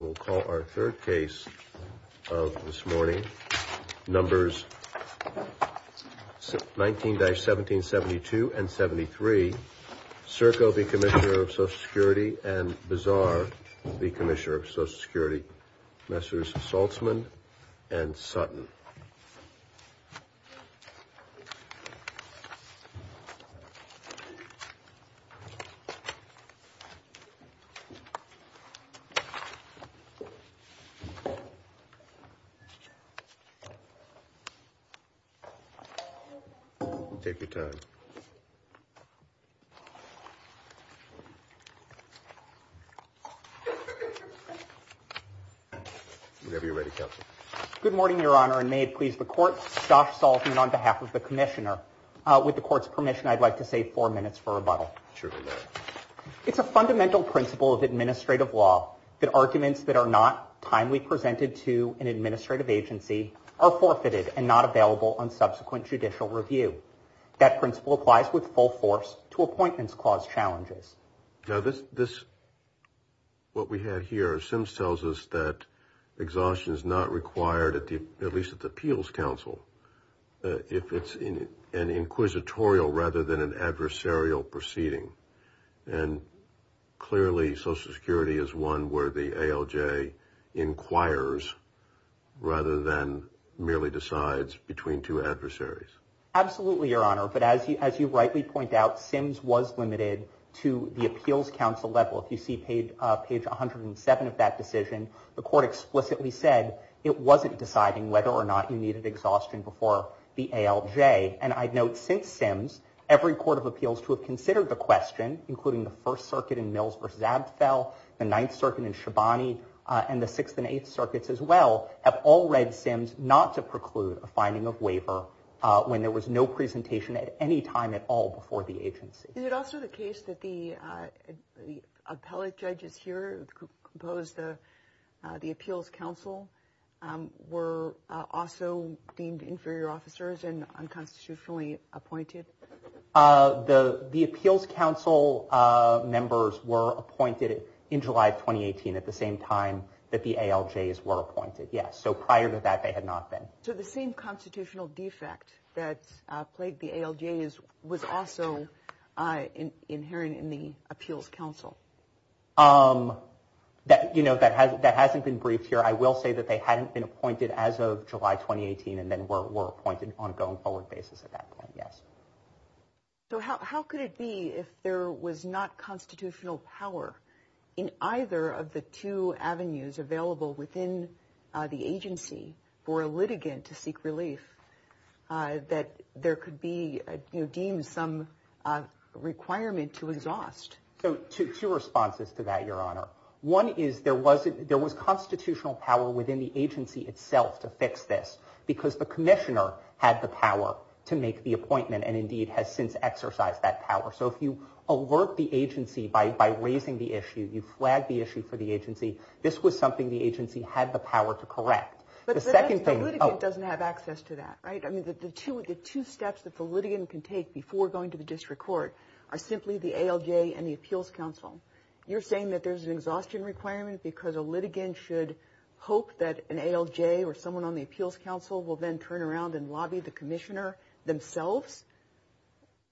We'll call our third case of this morning. Numbers 19-1772 and 73. Cirko v. Commissioner of Social Security and Bazar v. Commissioner of Social Security. Messrs. Saltzman and Sutton. Take your time. Whenever you're ready, Counsel. Good morning, Your Honor, and may it please the Court, Josh Saltzman on behalf of the Commissioner. With the Court's permission, I'd like to save four minutes for rebuttal. Surely not. It's a fundamental principle of administrative law that arguments that are not timely presented to an administrative agency are forfeited and not available on subsequent judicial review. That principle applies with full force to appointments clause challenges. Now this, what we have here, Sims tells us that exhaustion is not required, at least at the appeals counsel, if it's an inquisitorial rather than an adversarial proceeding. And clearly Social Security is one where the ALJ inquires rather than merely decides between two adversaries. Absolutely, Your Honor, but as you rightly point out, Sims was limited to the appeals counsel level. If you see page 107 of that decision, the Court explicitly said it wasn't deciding whether or not you needed exhaustion before the ALJ. And I'd note since Sims, every court of appeals to have considered the question, including the First Circuit in Mills v. Abtfeld, the Ninth Circuit in Shabani, and the Sixth and Eighth Circuits as well, have all read Sims not to preclude a finding of waiver when there was no presentation at any time at all before the agency. Is it also the case that the appellate judges here that compose the appeals counsel were also deemed inferior officers and unconstitutionally appointed? The appeals counsel members were appointed in July of 2018 at the same time that the ALJs were appointed, yes. So prior to that, they had not been. So the same constitutional defect that plagued the ALJs was also inherent in the appeals counsel? You know, that hasn't been briefed here. I will say that they hadn't been appointed as of July 2018 and then were appointed on a going forward basis at that point, yes. So how could it be if there was not constitutional power in either of the two avenues available within the agency for a litigant to seek relief that there could be deemed some requirement to exhaust? So two responses to that, Your Honor. One is there was constitutional power within the agency itself to fix this because the commissioner had the power to make the appointment and indeed has since exercised that power. So if you alert the agency by raising the issue, you flag the issue for the agency, this was something the agency had the power to correct. But the litigant doesn't have access to that, right? I mean, the two steps that the litigant can take before going to the district court are simply the ALJ and the appeals counsel. You're saying that there's an exhaustion requirement because a litigant should hope that an ALJ or someone on the appeals counsel will then turn around and lobby the commissioner themselves?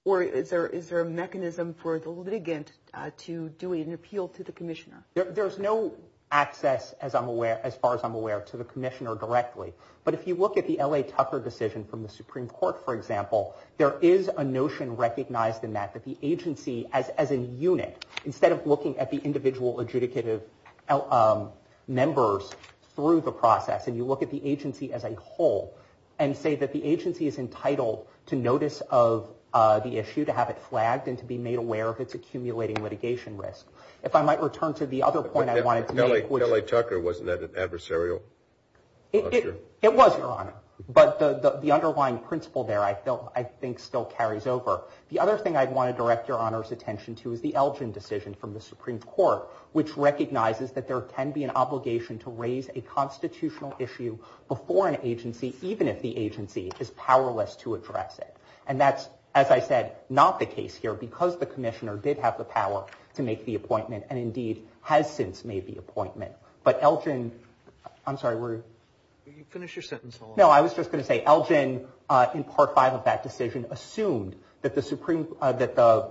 There's no access, as far as I'm aware, to the commissioner directly. But if you look at the L.A. Tucker decision from the Supreme Court, for example, there is a notion recognized in that that the agency, as a unit, instead of looking at the individual adjudicative members through the process, and you look at the agency as a whole and say that the agency is entitled to notice of the issue, to have it flagged, and to be made aware of its accumulating litigation risk. If I might return to the other point I wanted to make... But the L.A. Tucker, wasn't that adversarial? It was, Your Honor. But the underlying principle there, I think, still carries over. The other thing I'd want to direct Your Honor's attention to is the LGIN decision from the Supreme Court, which recognizes that there can be an obligation to raise a constitutional issue before an agency, even if the agency is powerless to address it. And that's, as I said, not the case here because the commissioner did have the power to make the appointment, and indeed has since made the appointment. But LGIN... I'm sorry, where are you? Finish your sentence. No, I was just going to say LGIN, in Part 5 of that decision, assumed that the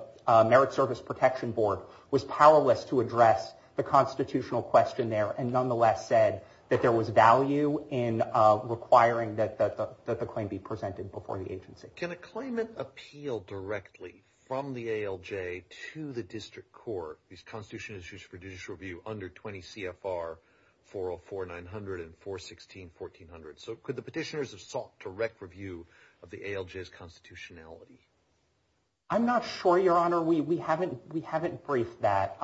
Merit Service Protection Board was powerless to address the constitutional question there and nonetheless said that there was value in requiring that the claim be presented before the agency. Can a claimant appeal directly from the ALJ to the district court whose constitution is used for judicial review under 20 CFR 404-900 and 416-1400? So could the petitioners have sought direct review of the ALJ's constitutionality? I'm not sure, Your Honor. We haven't briefed that.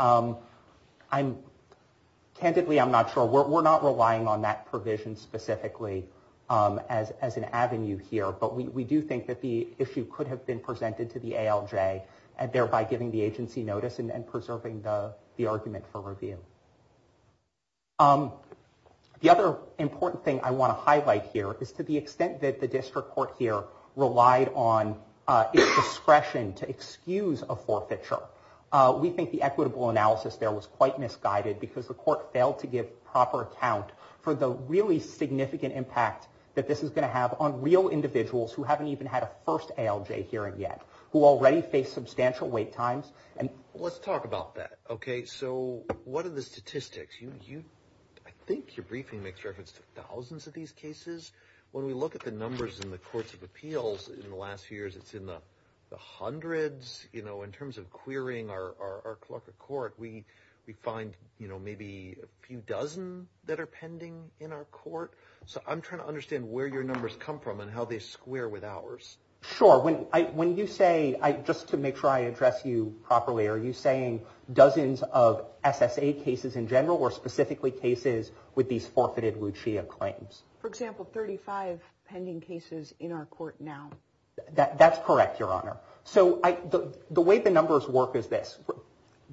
Candidly, I'm not sure. We're not relying on that provision specifically as an avenue here. But we do think that the issue could have been presented to the ALJ and thereby giving the agency notice and preserving the argument for review. The other important thing I want to highlight here is to the extent that the district court here relied on its discretion to excuse a forfeiture, we think the equitable analysis there was quite misguided because the court failed to give proper account for the really significant impact that this is going to have on real individuals who haven't even had a first ALJ hearing yet, who already face substantial wait times. Let's talk about that. So what are the statistics? I think your briefing makes reference to thousands of these cases. When we look at the numbers in the courts of appeals in the last few years, it's in the hundreds. In terms of querying our clerk of court, we find maybe a few dozen that are pending in our court. So I'm trying to understand where your numbers come from and how they square with ours. Sure. When you say, just to make sure I address you properly, are you saying dozens of SSA cases in general or specifically cases with these forfeited Lucia claims? For example, 35 pending cases in our court now. That's correct, Your Honor. So the way the numbers work is this.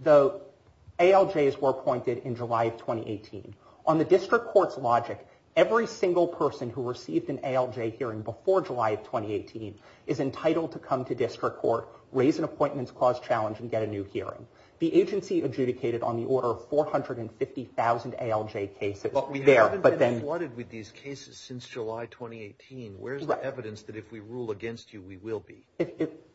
The ALJs were appointed in July of 2018. On the district court's logic, every single person who received an ALJ hearing before July of 2018 is entitled to come to district court, raise an appointments clause challenge, and get a new hearing. The agency adjudicated on the order of 450,000 ALJ cases there. But we haven't been applauded with these cases since July 2018. Where's the evidence that if we rule against you, we will be?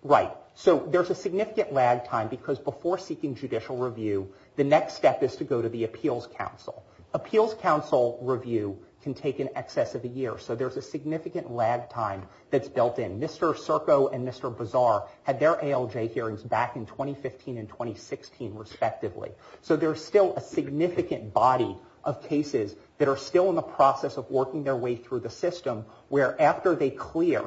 Right. So there's a significant lag time because before seeking judicial review, the next step is to go to the appeals council. Appeals council review can take in excess of a year. So there's a significant lag time that's built in. Mr. Circo and Mr. Bazar had their ALJ hearings back in 2015 and 2016 respectively. So there's still a significant body of cases that are still in the process of working their way through the system where after they clear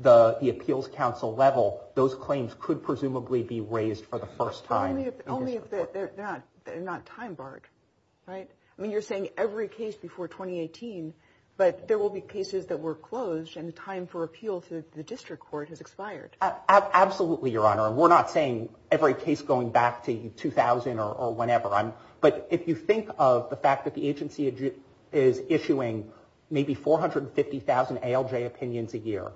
the appeals council level, those claims could presumably be raised for the first time. Only if they're not time barred, right? I mean, you're saying every case before 2018, but there will be cases that were closed and the time for appeal to the district court has expired. Absolutely, Your Honor. We're not saying every case going back to 2000 or whenever. But if you think of the fact that the agency is issuing maybe 450,000 ALJ opinions a year,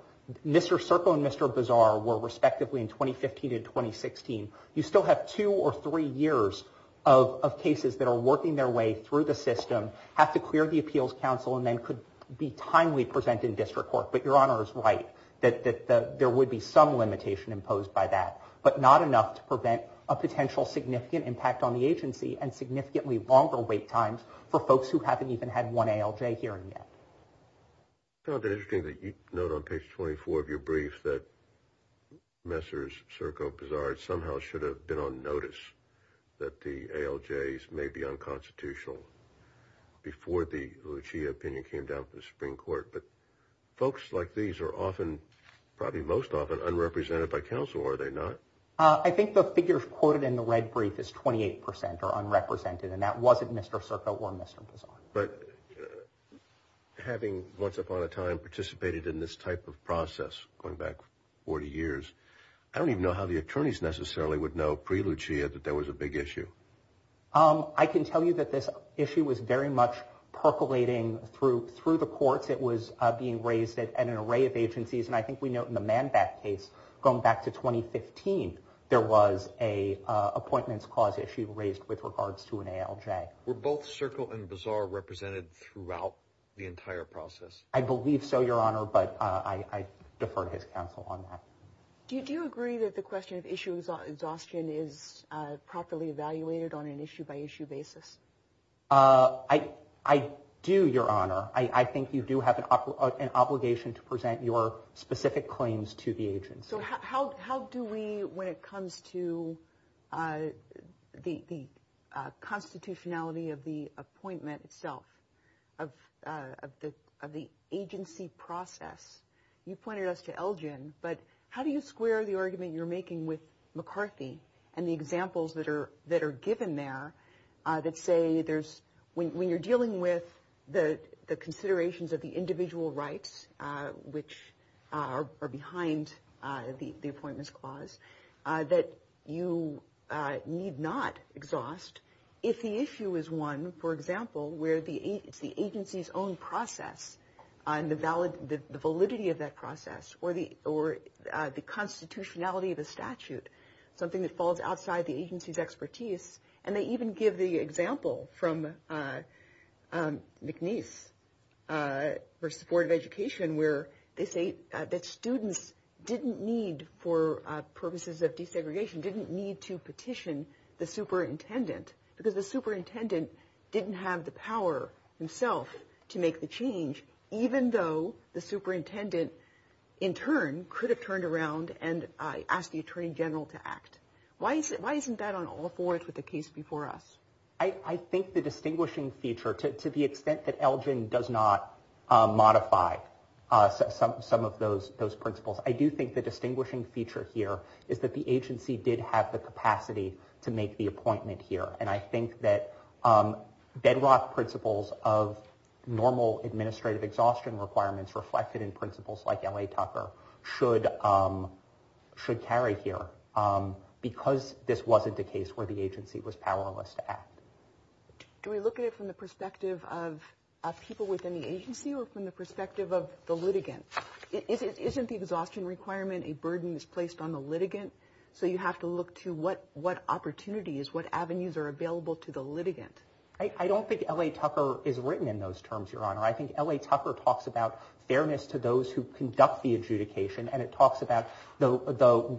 Mr. Circo and Mr. Bazar were respectively in 2015 and 2016. You still have two or three years of cases that are working their way through the system, have to clear the appeals council, and then could be timely presented in district court. But Your Honor is right that there would be some limitation imposed by that, but not enough to prevent a potential significant impact on the agency and significantly longer wait times for folks who haven't even had one ALJ hearing yet. I found it interesting that you note on page 24 of your brief that Mr. Circo and Mr. Bazar somehow should have been on notice that the ALJs may be unconstitutional before the Lucia opinion came down from the Supreme Court. But folks like these are often, probably most often, unrepresented by counsel, or are they not? I think the figures quoted in the red brief is 28% are unrepresented, and that wasn't Mr. Circo or Mr. Bazar. But having once upon a time participated in this type of process going back 40 years, I don't even know how the attorneys necessarily would know pre-Lucia that there was a big issue. I can tell you that this issue was very much percolating through the courts. It was being raised at an array of agencies, and I think we note in the ManBac case going back to 2015, there was an appointments clause issue raised with regards to an ALJ. Were both Circo and Bazar represented throughout the entire process? I believe so, Your Honor, but I defer to his counsel on that. Do you agree that the question of issue exhaustion is properly evaluated on an issue-by-issue basis? I do, Your Honor. I think you do have an obligation to present your specific claims to the agency. So how do we, when it comes to the constitutionality of the appointment itself, of the agency process, you pointed us to Elgin, but how do you square the argument you're making with McCarthy and the examples that are given there that say there's, when you're dealing with the considerations of the individual rights, which are behind the appointments clause, that you need not exhaust if the issue is one, for example, where it's the agency's own process and the validity of that process, or the constitutionality of the statute, something that falls outside the agency's expertise. And they even give the example from McNeese for supportive education, where they say that students didn't need, for purposes of desegregation, didn't need to petition the superintendent, because the superintendent didn't have the power himself to make the change, even though the superintendent, in turn, could have turned around and asked the attorney general to act. Why isn't that on all fours with the case before us? I think the distinguishing feature, to the extent that Elgin does not modify some of those principles, I do think the distinguishing feature here is that the agency did have the capacity to make the appointment here. And I think that bedrock principles of normal administrative exhaustion requirements reflected in principles like L.A. Tucker should carry here, because this wasn't a case where the agency was powerless to act. Do we look at it from the perspective of people within the agency or from the perspective of the litigant? Isn't the exhaustion requirement a burden that's placed on the litigant? So you have to look to what opportunities, what avenues are available to the litigant. I don't think L.A. Tucker is written in those terms, Your Honor. I think L.A. Tucker talks about fairness to those who conduct the adjudication, and it talks about the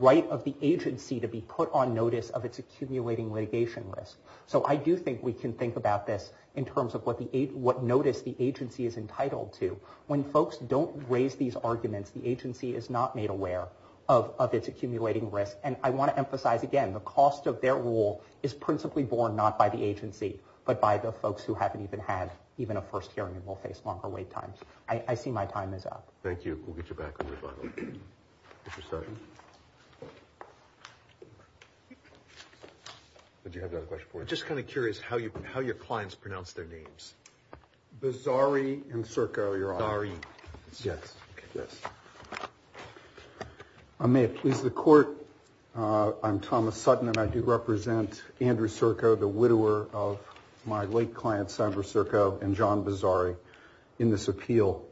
right of the agency to be put on notice of its accumulating litigation risk. So I do think we can think about this in terms of what notice the agency is entitled to. When folks don't raise these arguments, the agency is not made aware of its accumulating risk. And I want to emphasize again, the cost of their rule is principally borne not by the agency, but by the folks who haven't even had even a first hearing and will face longer wait times. I see my time is up. Thank you. We'll get you back in the rebuttal. Mr. Sessions. Did you have another question for us? I'm just kind of curious how your clients pronounce their names. Bizzari and Circo, Your Honor. Bizzari. Yes. May it please the Court, I'm Thomas Sutton, and I do represent Andrew Circo, the widower of my late clients, Andrew Circo and John Bizzari, in this appeal.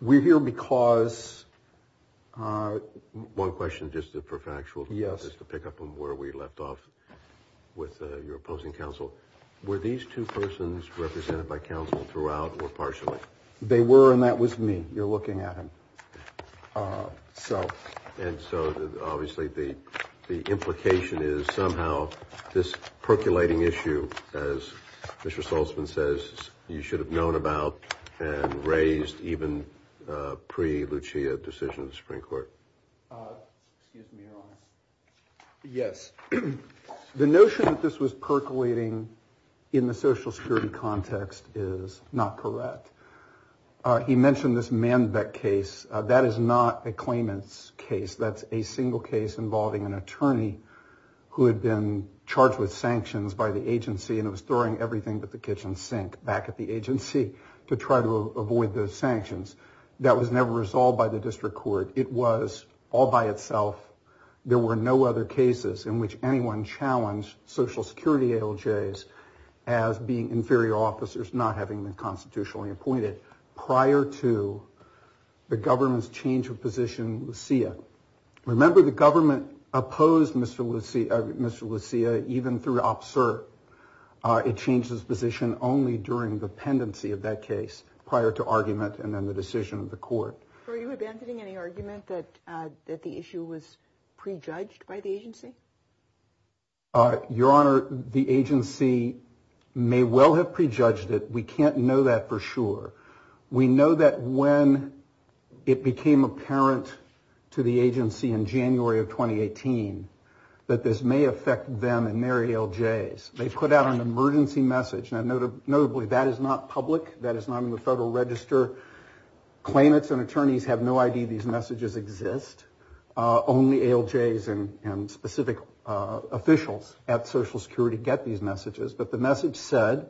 We're here because— One question, just for factual— Yes. Just to pick up on where we left off with your opposing counsel. Were these two persons represented by counsel throughout or partially? They were, and that was me. You're looking at him. And so obviously the implication is somehow this percolating issue, as Mr. Saltzman says, you should have known about and raised even pre-Lucia decision of the Supreme Court. Excuse me, Your Honor. Yes. The notion that this was percolating in the social security context is not correct. He mentioned this Manbeck case. That is not a claimant's case. That's a single case involving an attorney who had been charged with sanctions by the agency and was throwing everything but the kitchen sink back at the agency to try to avoid the sanctions. That was never resolved by the district court. It was all by itself. There were no other cases in which anyone challenged social security ALJs as being inferior officers not having been constitutionally appointed prior to the government's change of position in Lucia. Remember, the government opposed Mr. Lucia even through OPSERT. It changed its position only during the pendency of that case prior to argument and then the decision of the court. Are you abandoning any argument that the issue was prejudged by the agency? Your Honor, the agency may well have prejudged it. We can't know that for sure. We know that when it became apparent to the agency in January of 2018 that this may affect them and their ALJs. They put out an emergency message. Notably, that is not public. That is not in the Federal Register. Claimants and attorneys have no idea these messages exist. Only ALJs and specific officials at social security get these messages. But the message said,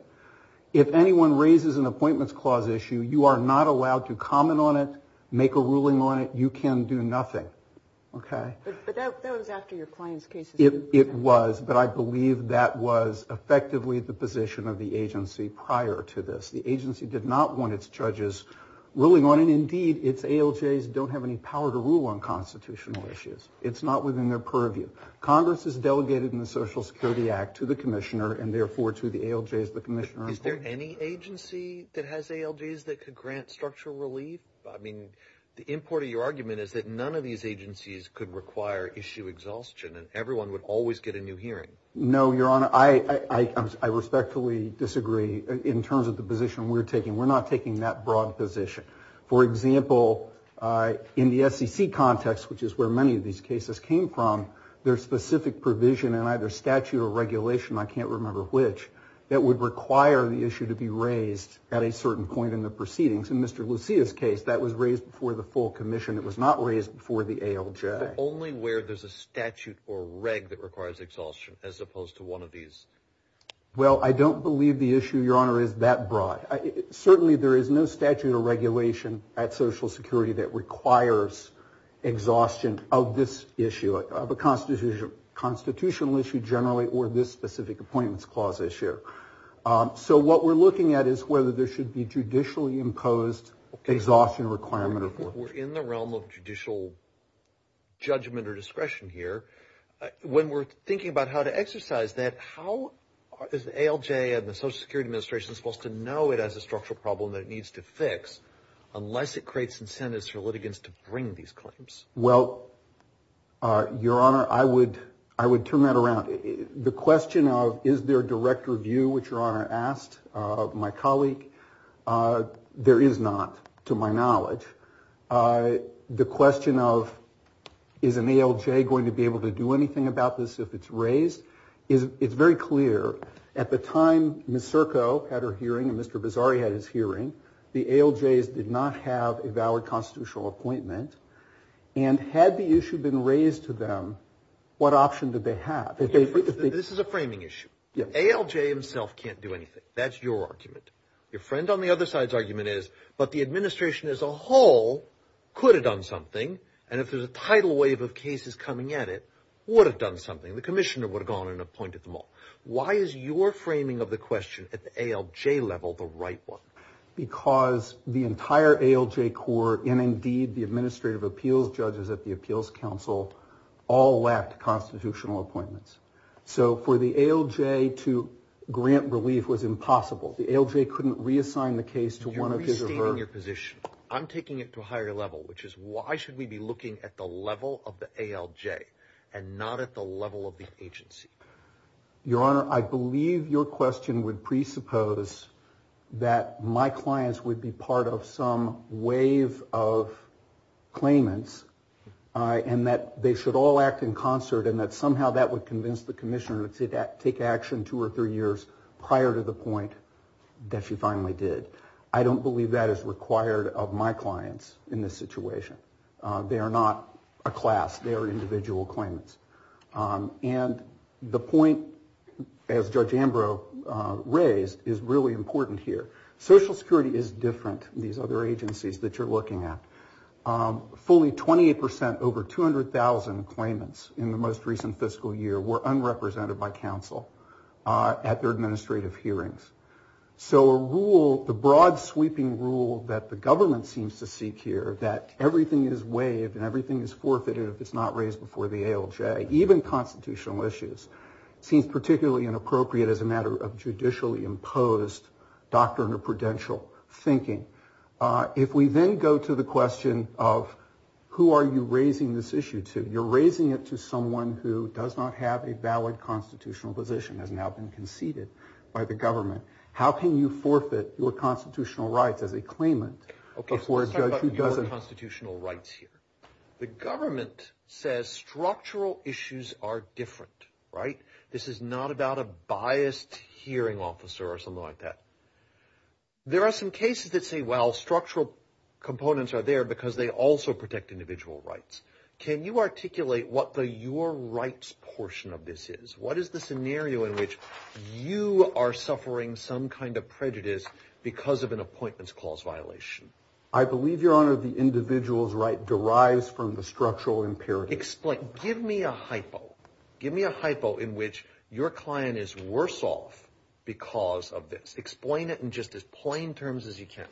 if anyone raises an appointments clause issue, you are not allowed to comment on it, make a ruling on it. You can do nothing. Okay? But that was after your client's case. It was, but I believe that was effectively the position of the agency prior to this. The agency did not want its judges ruling on it. Indeed, its ALJs don't have any power to rule on constitutional issues. It's not within their purview. Congress has delegated in the Social Security Act to the commissioner and therefore to the ALJs the commissioner and court. Is there any agency that has ALJs that could grant structural relief? I mean, the import of your argument is that none of these agencies could require issue exhaustion and everyone would always get a new hearing. No, Your Honor. Your Honor, I respectfully disagree in terms of the position we're taking. We're not taking that broad position. For example, in the SEC context, which is where many of these cases came from, there's specific provision in either statute or regulation, I can't remember which, that would require the issue to be raised at a certain point in the proceedings. In Mr. Lucia's case, that was raised before the full commission. It was not raised before the ALJ. Only where there's a statute or reg that requires exhaustion as opposed to one of these. Well, I don't believe the issue, Your Honor, is that broad. Certainly there is no statute or regulation at Social Security that requires exhaustion of this issue, of a constitutional issue generally or this specific appointments clause issue. So what we're looking at is whether there should be judicially imposed exhaustion requirement. We're in the realm of judicial judgment or discretion here. When we're thinking about how to exercise that, how is the ALJ and the Social Security Administration supposed to know it has a structural problem that it needs to fix unless it creates incentives for litigants to bring these claims? Well, Your Honor, I would turn that around. The question of is there direct review, which Your Honor asked my colleague, there is not to my knowledge. The question of is an ALJ going to be able to do anything about this if it's raised, it's very clear. At the time Ms. Serco had her hearing and Mr. Bizzari had his hearing, the ALJs did not have a valid constitutional appointment. And had the issue been raised to them, what option did they have? This is a framing issue. ALJ himself can't do anything. That's your argument. Your friend on the other side's argument is, but the Administration as a whole could have done something, and if there's a tidal wave of cases coming at it, would have done something. The Commissioner would have gone and appointed them all. Why is your framing of the question at the ALJ level the right one? Because the entire ALJ core, and indeed the Administrative Appeals Judges at the Appeals Council, all lacked constitutional appointments. So for the ALJ to grant relief was impossible. The ALJ couldn't reassign the case to one of his or her. You're restating your position. I'm taking it to a higher level, which is why should we be looking at the level of the ALJ and not at the level of the agency? Your Honor, I believe your question would presuppose that my clients would be part of some wave of claimants and that they should all act in concert and that somehow that would convince the Commissioner to take action two or three years prior to the point that she finally did. I don't believe that is required of my clients in this situation. They are not a class. They are individual claimants. And the point, as Judge Ambrose raised, is really important here. Social Security is different from these other agencies that you're looking at. Fully 28 percent over 200,000 claimants in the most recent fiscal year were unrepresented by counsel at their administrative hearings. So a rule, the broad sweeping rule that the government seems to seek here, that everything is waived and everything is forfeited if it's not raised before the ALJ, even constitutional issues, seems particularly inappropriate as a matter of judicially imposed doctrinal prudential thinking. If we then go to the question of who are you raising this issue to, you're raising it to someone who does not have a valid constitutional position, has now been conceded by the government. How can you forfeit your constitutional rights as a claimant before a judge who doesn't? Okay, so let's talk about your constitutional rights here. The government says structural issues are different, right? This is not about a biased hearing officer or something like that. There are some cases that say, well, structural components are there because they also protect individual rights. Can you articulate what the your rights portion of this is? What is the scenario in which you are suffering some kind of prejudice because of an appointments clause violation? I believe, Your Honor, the individual's right derives from the structural imperative. Explain. Give me a hypo. Give me a hypo in which your client is worse off because of this. Explain it in just as plain terms as you can.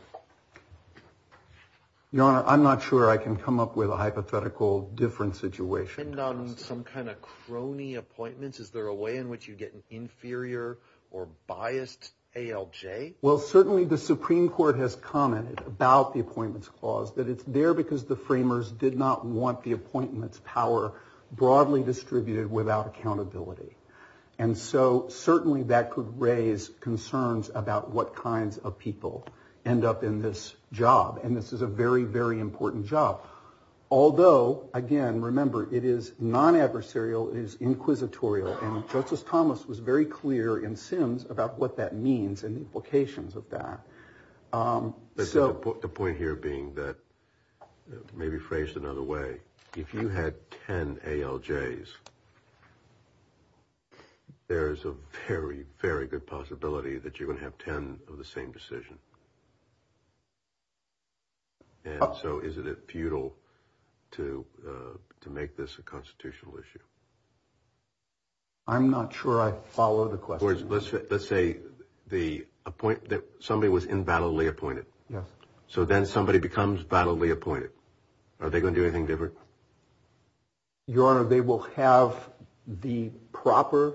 Your Honor, I'm not sure I can come up with a hypothetical different situation. Does it depend on some kind of crony appointments? Is there a way in which you get an inferior or biased ALJ? Well, certainly the Supreme Court has commented about the appointments clause, that it's there because the framers did not want the appointments power broadly distributed without accountability. And so certainly that could raise concerns about what kinds of people end up in this job. And this is a very, very important job. Although, again, remember, it is non-adversarial, it is inquisitorial. And Justice Thomas was very clear in Sims about what that means and the implications of that. So the point here being that maybe phrased another way, if you had 10 ALJs, there is a very, very good possibility that you're going to have 10 of the same decision. And so is it futile to make this a constitutional issue? I'm not sure I follow the question. Let's say somebody was invalidly appointed. Yes. So then somebody becomes validly appointed. Are they going to do anything different? Your Honor, they will have the proper.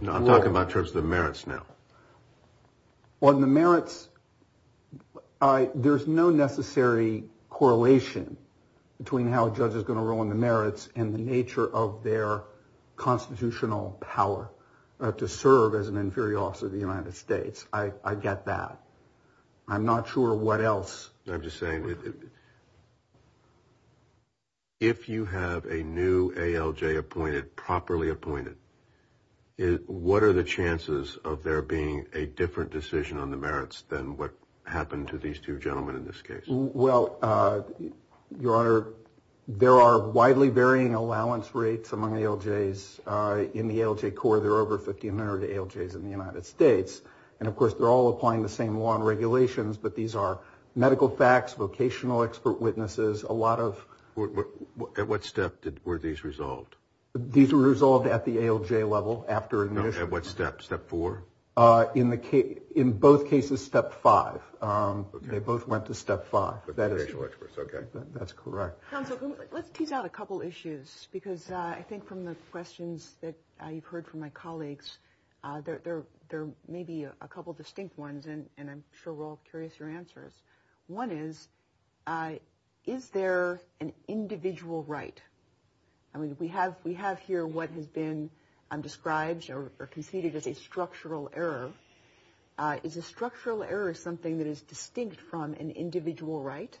No, I'm talking about in terms of the merits now. On the merits, there's no necessary correlation between how a judge is going to roll on the merits and the nature of their constitutional power to serve as an inferior officer to the United States. I get that. I'm not sure what else. I'm just saying if you have a new ALJ appointed, properly appointed, what are the chances of there being a different decision on the merits than what happened to these two gentlemen in this case? Well, Your Honor, there are widely varying allowance rates among ALJs in the ALJ Corps. There are over 1,500 ALJs in the United States. And, of course, they're all applying the same law and regulations, but these are medical facts, vocational expert witnesses, a lot of. At what step were these resolved? These were resolved at the ALJ level after admission. At what step? Step four? In both cases, step five. They both went to step five. Okay. That's correct. Counsel, let's tease out a couple issues because I think from the questions that you've heard from my colleagues, there may be a couple distinct ones, and I'm sure we're all curious your answers. One is, is there an individual right? I mean, we have here what has been described or conceded as a structural error. Is a structural error something that is distinct from an individual right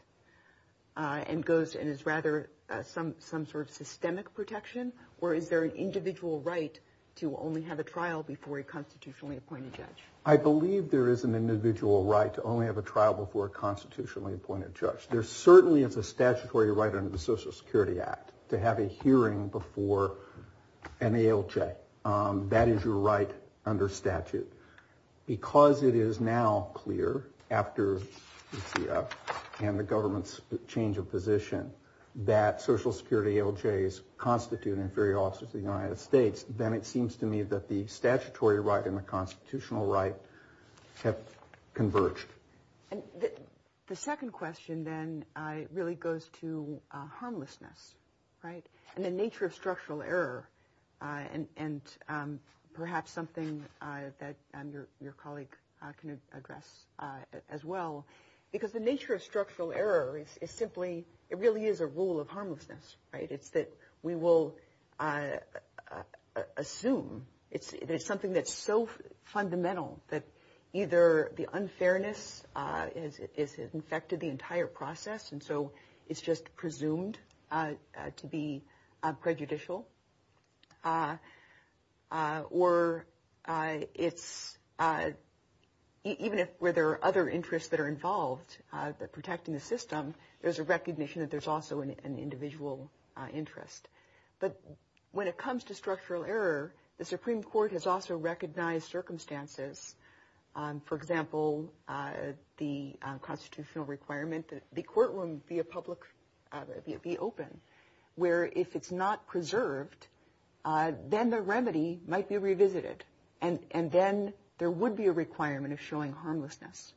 and is rather some sort of systemic protection, or is there an individual right to only have a trial before a constitutionally appointed judge? I believe there is an individual right to only have a trial before a constitutionally appointed judge. There certainly is a statutory right under the Social Security Act to have a hearing before an ALJ. That is your right under statute. Because it is now clear, after the CF and the government's change of position, that Social Security ALJs constitute inferior officers to the United States, then it seems to me that the statutory right and the constitutional right have converged. The second question then really goes to harmlessness, right, and the nature of structural error, and perhaps something that your colleague can address as well. Because the nature of structural error is simply, it really is a rule of harmlessness, right? It's that we will assume that it's something that's so fundamental that either the unfairness has infected the entire process, and so it's just presumed to be prejudicial, or even if there are other interests that are involved in protecting the system, there's a recognition that there's also an individual interest. But when it comes to structural error, the Supreme Court has also recognized circumstances. For example, the constitutional requirement that the courtroom be open, where if it's not preserved, then the remedy might be revisited, and then there would be a requirement of showing harmlessness.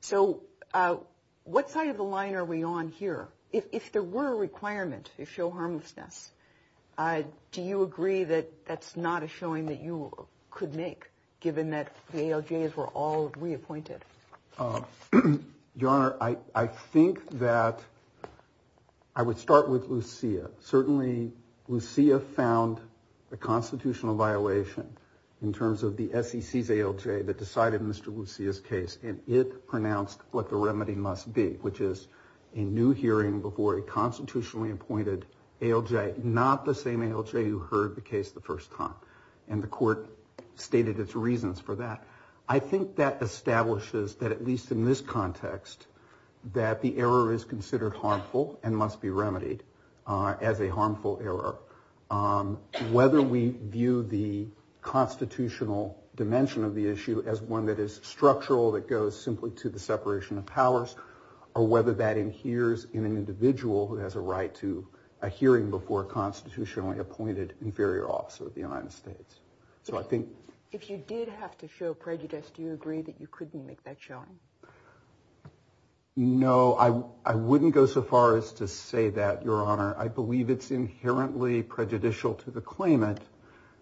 So what side of the line are we on here? If there were a requirement to show harmlessness, do you agree that that's not a showing that you could make, given that the ALJs were all reappointed? Your Honor, I think that I would start with Lucia. Certainly Lucia found a constitutional violation in terms of the SEC's ALJ that decided Mr. Lucia's case, and it pronounced what the remedy must be, which is a new hearing before a constitutionally appointed ALJ, not the same ALJ who heard the case the first time, and the court stated its reasons for that. I think that establishes that, at least in this context, that the error is considered harmful and must be remedied as a harmful error. Whether we view the constitutional dimension of the issue as one that is structural, that goes simply to the separation of powers, or whether that adheres in an individual who has a right to a hearing before a constitutionally appointed inferior officer of the United States. If you did have to show prejudice, do you agree that you couldn't make that showing? No, I wouldn't go so far as to say that, Your Honor. I believe it's inherently prejudicial to the claimant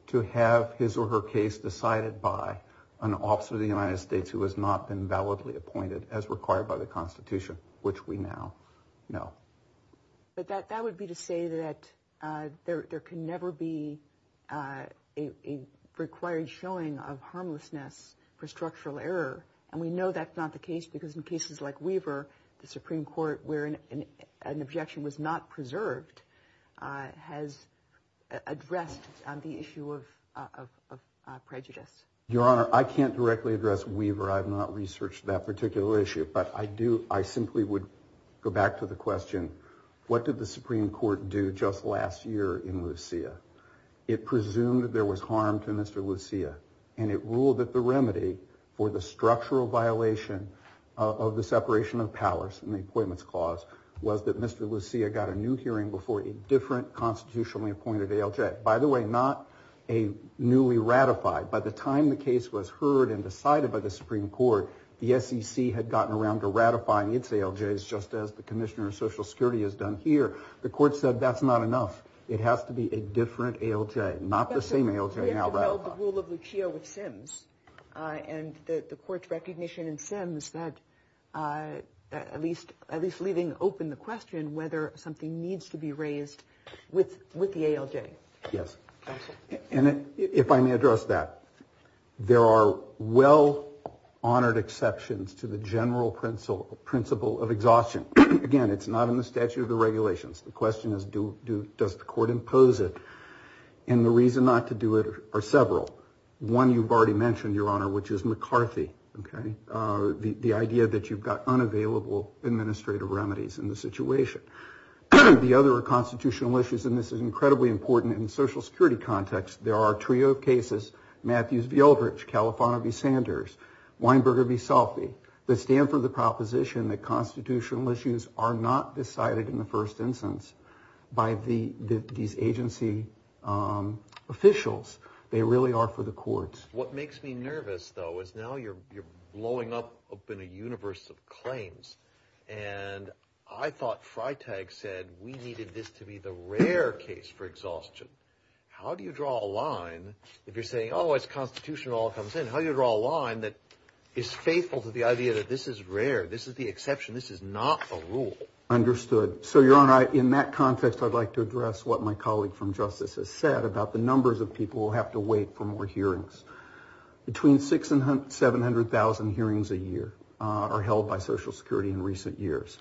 to have his or her case decided by an officer of the United States who has not been validly appointed as required by the Constitution, which we now know. But that would be to say that there can never be a required showing of harmlessness for structural error, and we know that's not the case because in cases like Weaver, the Supreme Court, where an objection was not preserved, has addressed the issue of prejudice. Your Honor, I can't directly address Weaver. I have not researched that particular issue, but I simply would go back to the question, what did the Supreme Court do just last year in Lucia? It presumed that there was harm to Mr. Lucia, and it ruled that the remedy for the structural violation of the separation of powers in the Appointments Clause was that Mr. Lucia got a new hearing before a different constitutionally appointed ALJ. By the way, not a newly ratified. By the time the case was heard and decided by the Supreme Court, the SEC had gotten around to ratifying its ALJs, just as the Commissioner of Social Security has done here. The Court said that's not enough. It has to be a different ALJ, not the same ALJ now ratified. We have to build the rule of Lucia with Sims, and the Court's recognition in Sims that at least leaving open the question whether something needs to be raised with the ALJ. Yes. And if I may address that, there are well-honored exceptions to the general principle of exhaustion. Again, it's not in the statute of the regulations. The question is, does the Court impose it? And the reason not to do it are several. One you've already mentioned, Your Honor, which is McCarthy, okay, the idea that you've got unavailable administrative remedies in the situation. The other are constitutional issues, and this is incredibly important in the Social Security context. There are a trio of cases, Matthews v. Eldridge, Califano v. Sanders, Weinberger v. Salfie, that stand for the proposition that constitutional issues are not decided in the first instance by these agency officials. They really are for the courts. What makes me nervous, though, is now you're blowing up in a universe of claims, and I thought Freitag said we needed this to be the rare case for exhaustion. How do you draw a line if you're saying, oh, it's constitutional, it all comes in? How do you draw a line that is faithful to the idea that this is rare, this is the exception, this is not a rule? Understood. So, Your Honor, in that context, I'd like to address what my colleague from Justice has said about the numbers of people who have to wait for more hearings. Between 600,000 and 700,000 hearings a year are held by Social Security in recent years.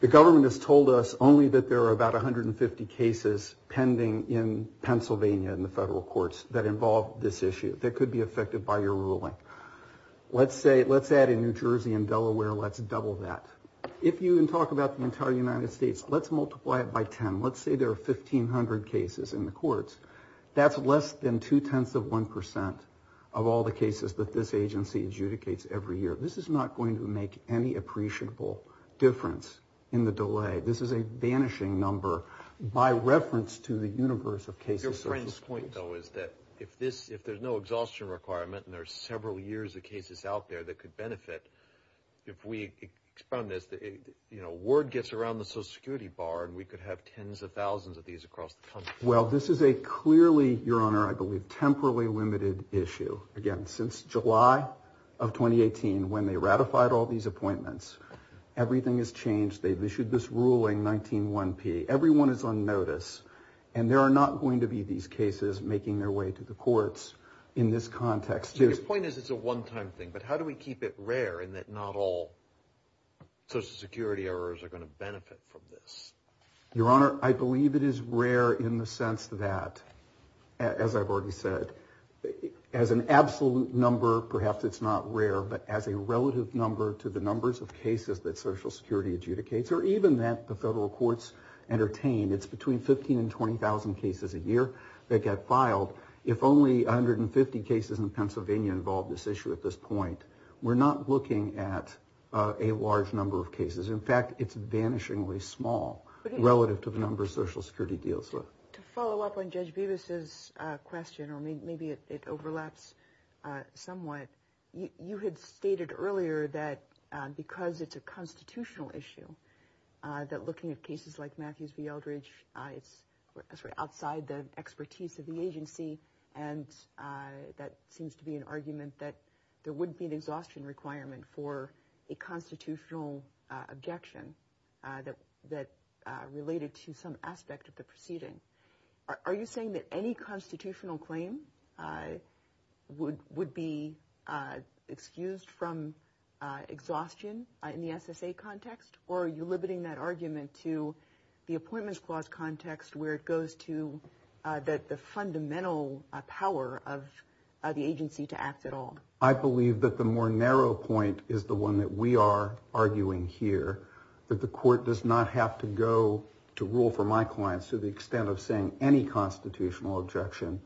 The government has told us only that there are about 150 cases pending in Pennsylvania in the federal courts that involve this issue that could be affected by your ruling. Let's say, let's add in New Jersey and Delaware, let's double that. If you talk about the entire United States, let's multiply it by 10. Let's say there are 1,500 cases in the courts. That's less than two-tenths of 1% of all the cases that this agency adjudicates every year. This is not going to make any appreciable difference in the delay. This is a vanishing number by reference to the universe of cases. Your friend's point, though, is that if there's no exhaustion requirement and there are several years of cases out there that could benefit, if we expand this, you know, word gets around the Social Security bar and we could have tens of thousands of these across the country. Well, this is a clearly, Your Honor, I believe, temporarily limited issue. Again, since July of 2018, when they ratified all these appointments, everything has changed. They've issued this ruling, 19-1P. Everyone is on notice, and there are not going to be these cases making their way to the courts in this context. Your point is it's a one-time thing, but how do we keep it rare and that not all Social Security errors are going to benefit from this? Your Honor, I believe it is rare in the sense that, as I've already said, as an absolute number, perhaps it's not rare, but as a relative number to the numbers of cases that Social Security adjudicates or even that the federal courts entertain, it's between 15,000 and 20,000 cases a year that get filed. If only 150 cases in Pennsylvania involve this issue at this point. We're not looking at a large number of cases. In fact, it's vanishingly small relative to the number Social Security deals with. To follow up on Judge Bevis' question, or maybe it overlaps somewhat, you had stated earlier that because it's a constitutional issue that looking at cases like Matthews v. Eldridge, it's outside the expertise of the agency, and that seems to be an argument that there wouldn't be an exhaustion requirement for a constitutional objection that related to some aspect of the proceeding. Are you saying that any constitutional claim would be excused from exhaustion in the SSA context, or are you limiting that argument to the Appointments Clause context where it goes to the fundamental power of the agency to act at all? I believe that the more narrow point is the one that we are arguing here, that the court does not have to go to rule for my clients to the extent of saying any constitutional objection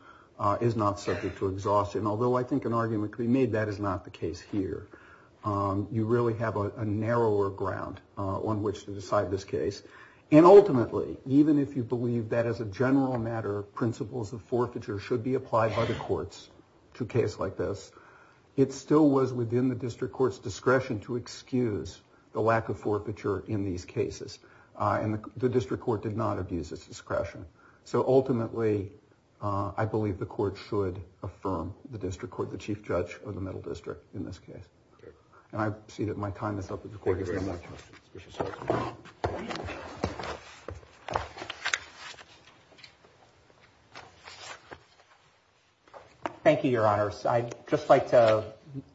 is not subject to exhaustion, although I think an argument could be made that is not the case here. You really have a narrower ground on which to decide this case. And ultimately, even if you believe that as a general matter, principles of forfeiture should be applied by the courts to a case like this, it still was within the district court's discretion to excuse the lack of forfeiture in these cases, and the district court did not abuse its discretion. So ultimately, I believe the court should affirm the district court, the Chief Judge of the Middle District in this case. And I see that my time is up. Thank you, Your Honors. I'd just like to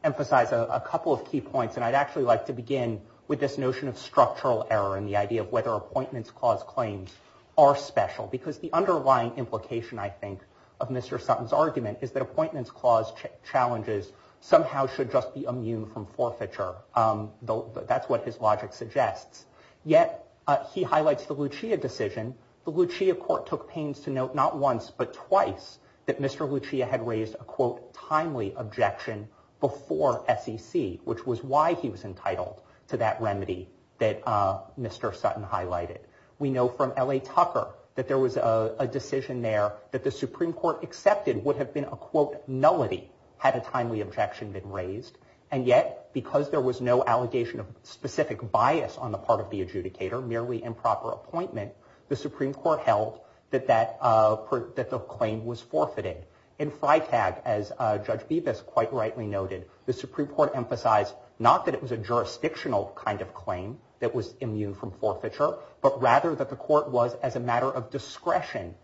emphasize a couple of key points, and I'd actually like to begin with this notion of structural error and the idea of whether Appointments Clause claims are special, because the underlying implication, I think, of Mr. Sutton's argument is that Appointments Clause challenges somehow should just be immune from forfeiture. That's what his logic suggests. Yet he highlights the Lucia decision. The Lucia court took pains to note not once but twice that Mr. Lucia had raised a, quote, timely objection before SEC, which was why he was entitled to that remedy that Mr. Sutton highlighted. We know from L.A. Tucker that there was a decision there that the Supreme Court accepted would have been a, quote, nullity had a timely objection been raised, and yet because there was no allegation of specific bias on the part of the adjudicator, merely improper appointment, the Supreme Court held that the claim was forfeited. In Freitag, as Judge Bibas quite rightly noted, the Supreme Court emphasized not that it was a jurisdictional kind of claim that was immune from forfeiture, but rather that the court was, as a matter of discretion,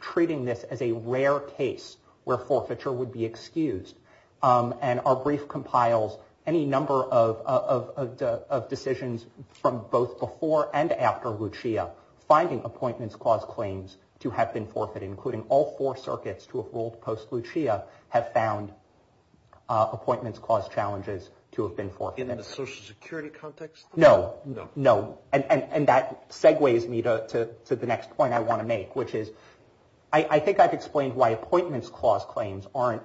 treating this as a rare case where forfeiture would be excused. And our brief compiles any number of decisions from both before and after Lucia finding Appointments Clause claims to have been forfeited, including all four circuits to have ruled post-Lucia have found Appointments Clause challenges to have been forfeited. In the Social Security context? No, no. And that segues me to the next point I want to make, which is I think I've explained why Appointments Clause claims aren't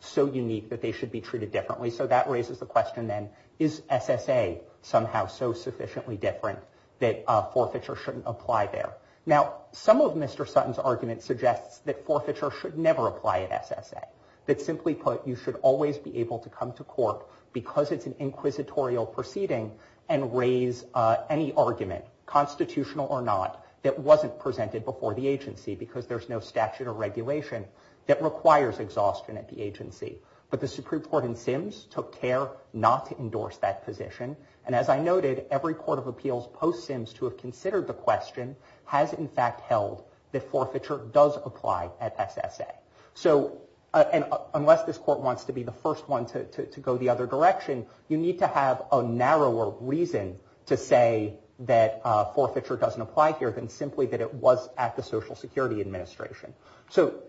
so unique that they should be treated differently. So that raises the question then, is SSA somehow so sufficiently different that forfeiture shouldn't apply there? Now, some of Mr. Sutton's argument suggests that forfeiture should never apply at SSA. That, simply put, you should always be able to come to court because it's an inquisitorial proceeding and raise any argument, constitutional or not, that wasn't presented before the agency because there's no statute or regulation that requires exhaustion at the agency. But the Supreme Court in Sims took care not to endorse that position. And as I noted, every court of appeals post-Sims to have considered the question has in fact held that forfeiture does apply at SSA. So unless this court wants to be the first one to go the other direction, you need to have a narrower reason to say that forfeiture doesn't apply here than simply that it was at the Social Security Administration. So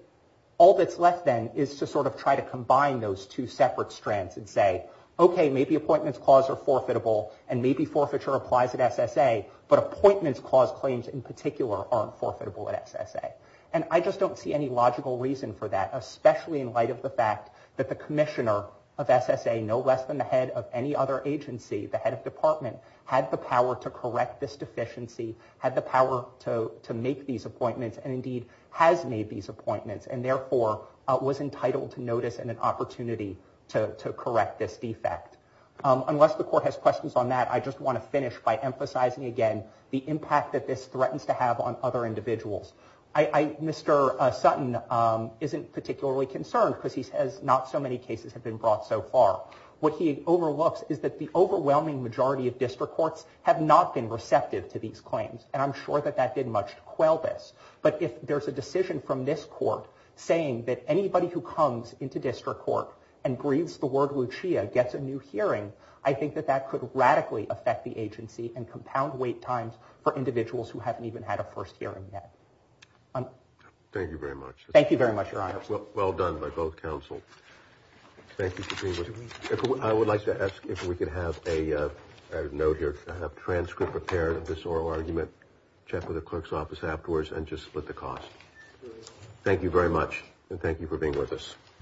all that's left then is to sort of try to combine those two separate strands and say, okay, maybe Appointments Clause are forfeitable and maybe forfeiture applies at SSA, but Appointments Clause claims in particular aren't forfeitable at SSA. And I just don't see any logical reason for that, especially in light of the fact that the commissioner of SSA, no less than the head of any other agency, the head of department, had the power to correct this deficiency, had the power to make these appointments and indeed has made these appointments and therefore was entitled to notice and an opportunity to correct this defect. Unless the court has questions on that, I just want to finish by emphasizing again the impact that this threatens to have on other individuals. Mr. Sutton isn't particularly concerned because he says not so many cases have been brought so far. What he overlooks is that the overwhelming majority of district courts have not been receptive to these claims and I'm sure that that didn't much quell this. But if there's a decision from this court saying that anybody who comes into district court and breathes the word Lucia gets a new hearing, I think that that could radically affect the agency and compound wait times for individuals who haven't even had a first hearing yet. Thank you very much. Thank you very much, Your Honor. Well done by both counsel. Thank you for being with us. I would like to ask if we could have a note here, have transcript prepared of this oral argument, check with the clerk's office afterwards and just split the cost. Thank you very much and thank you for being with us.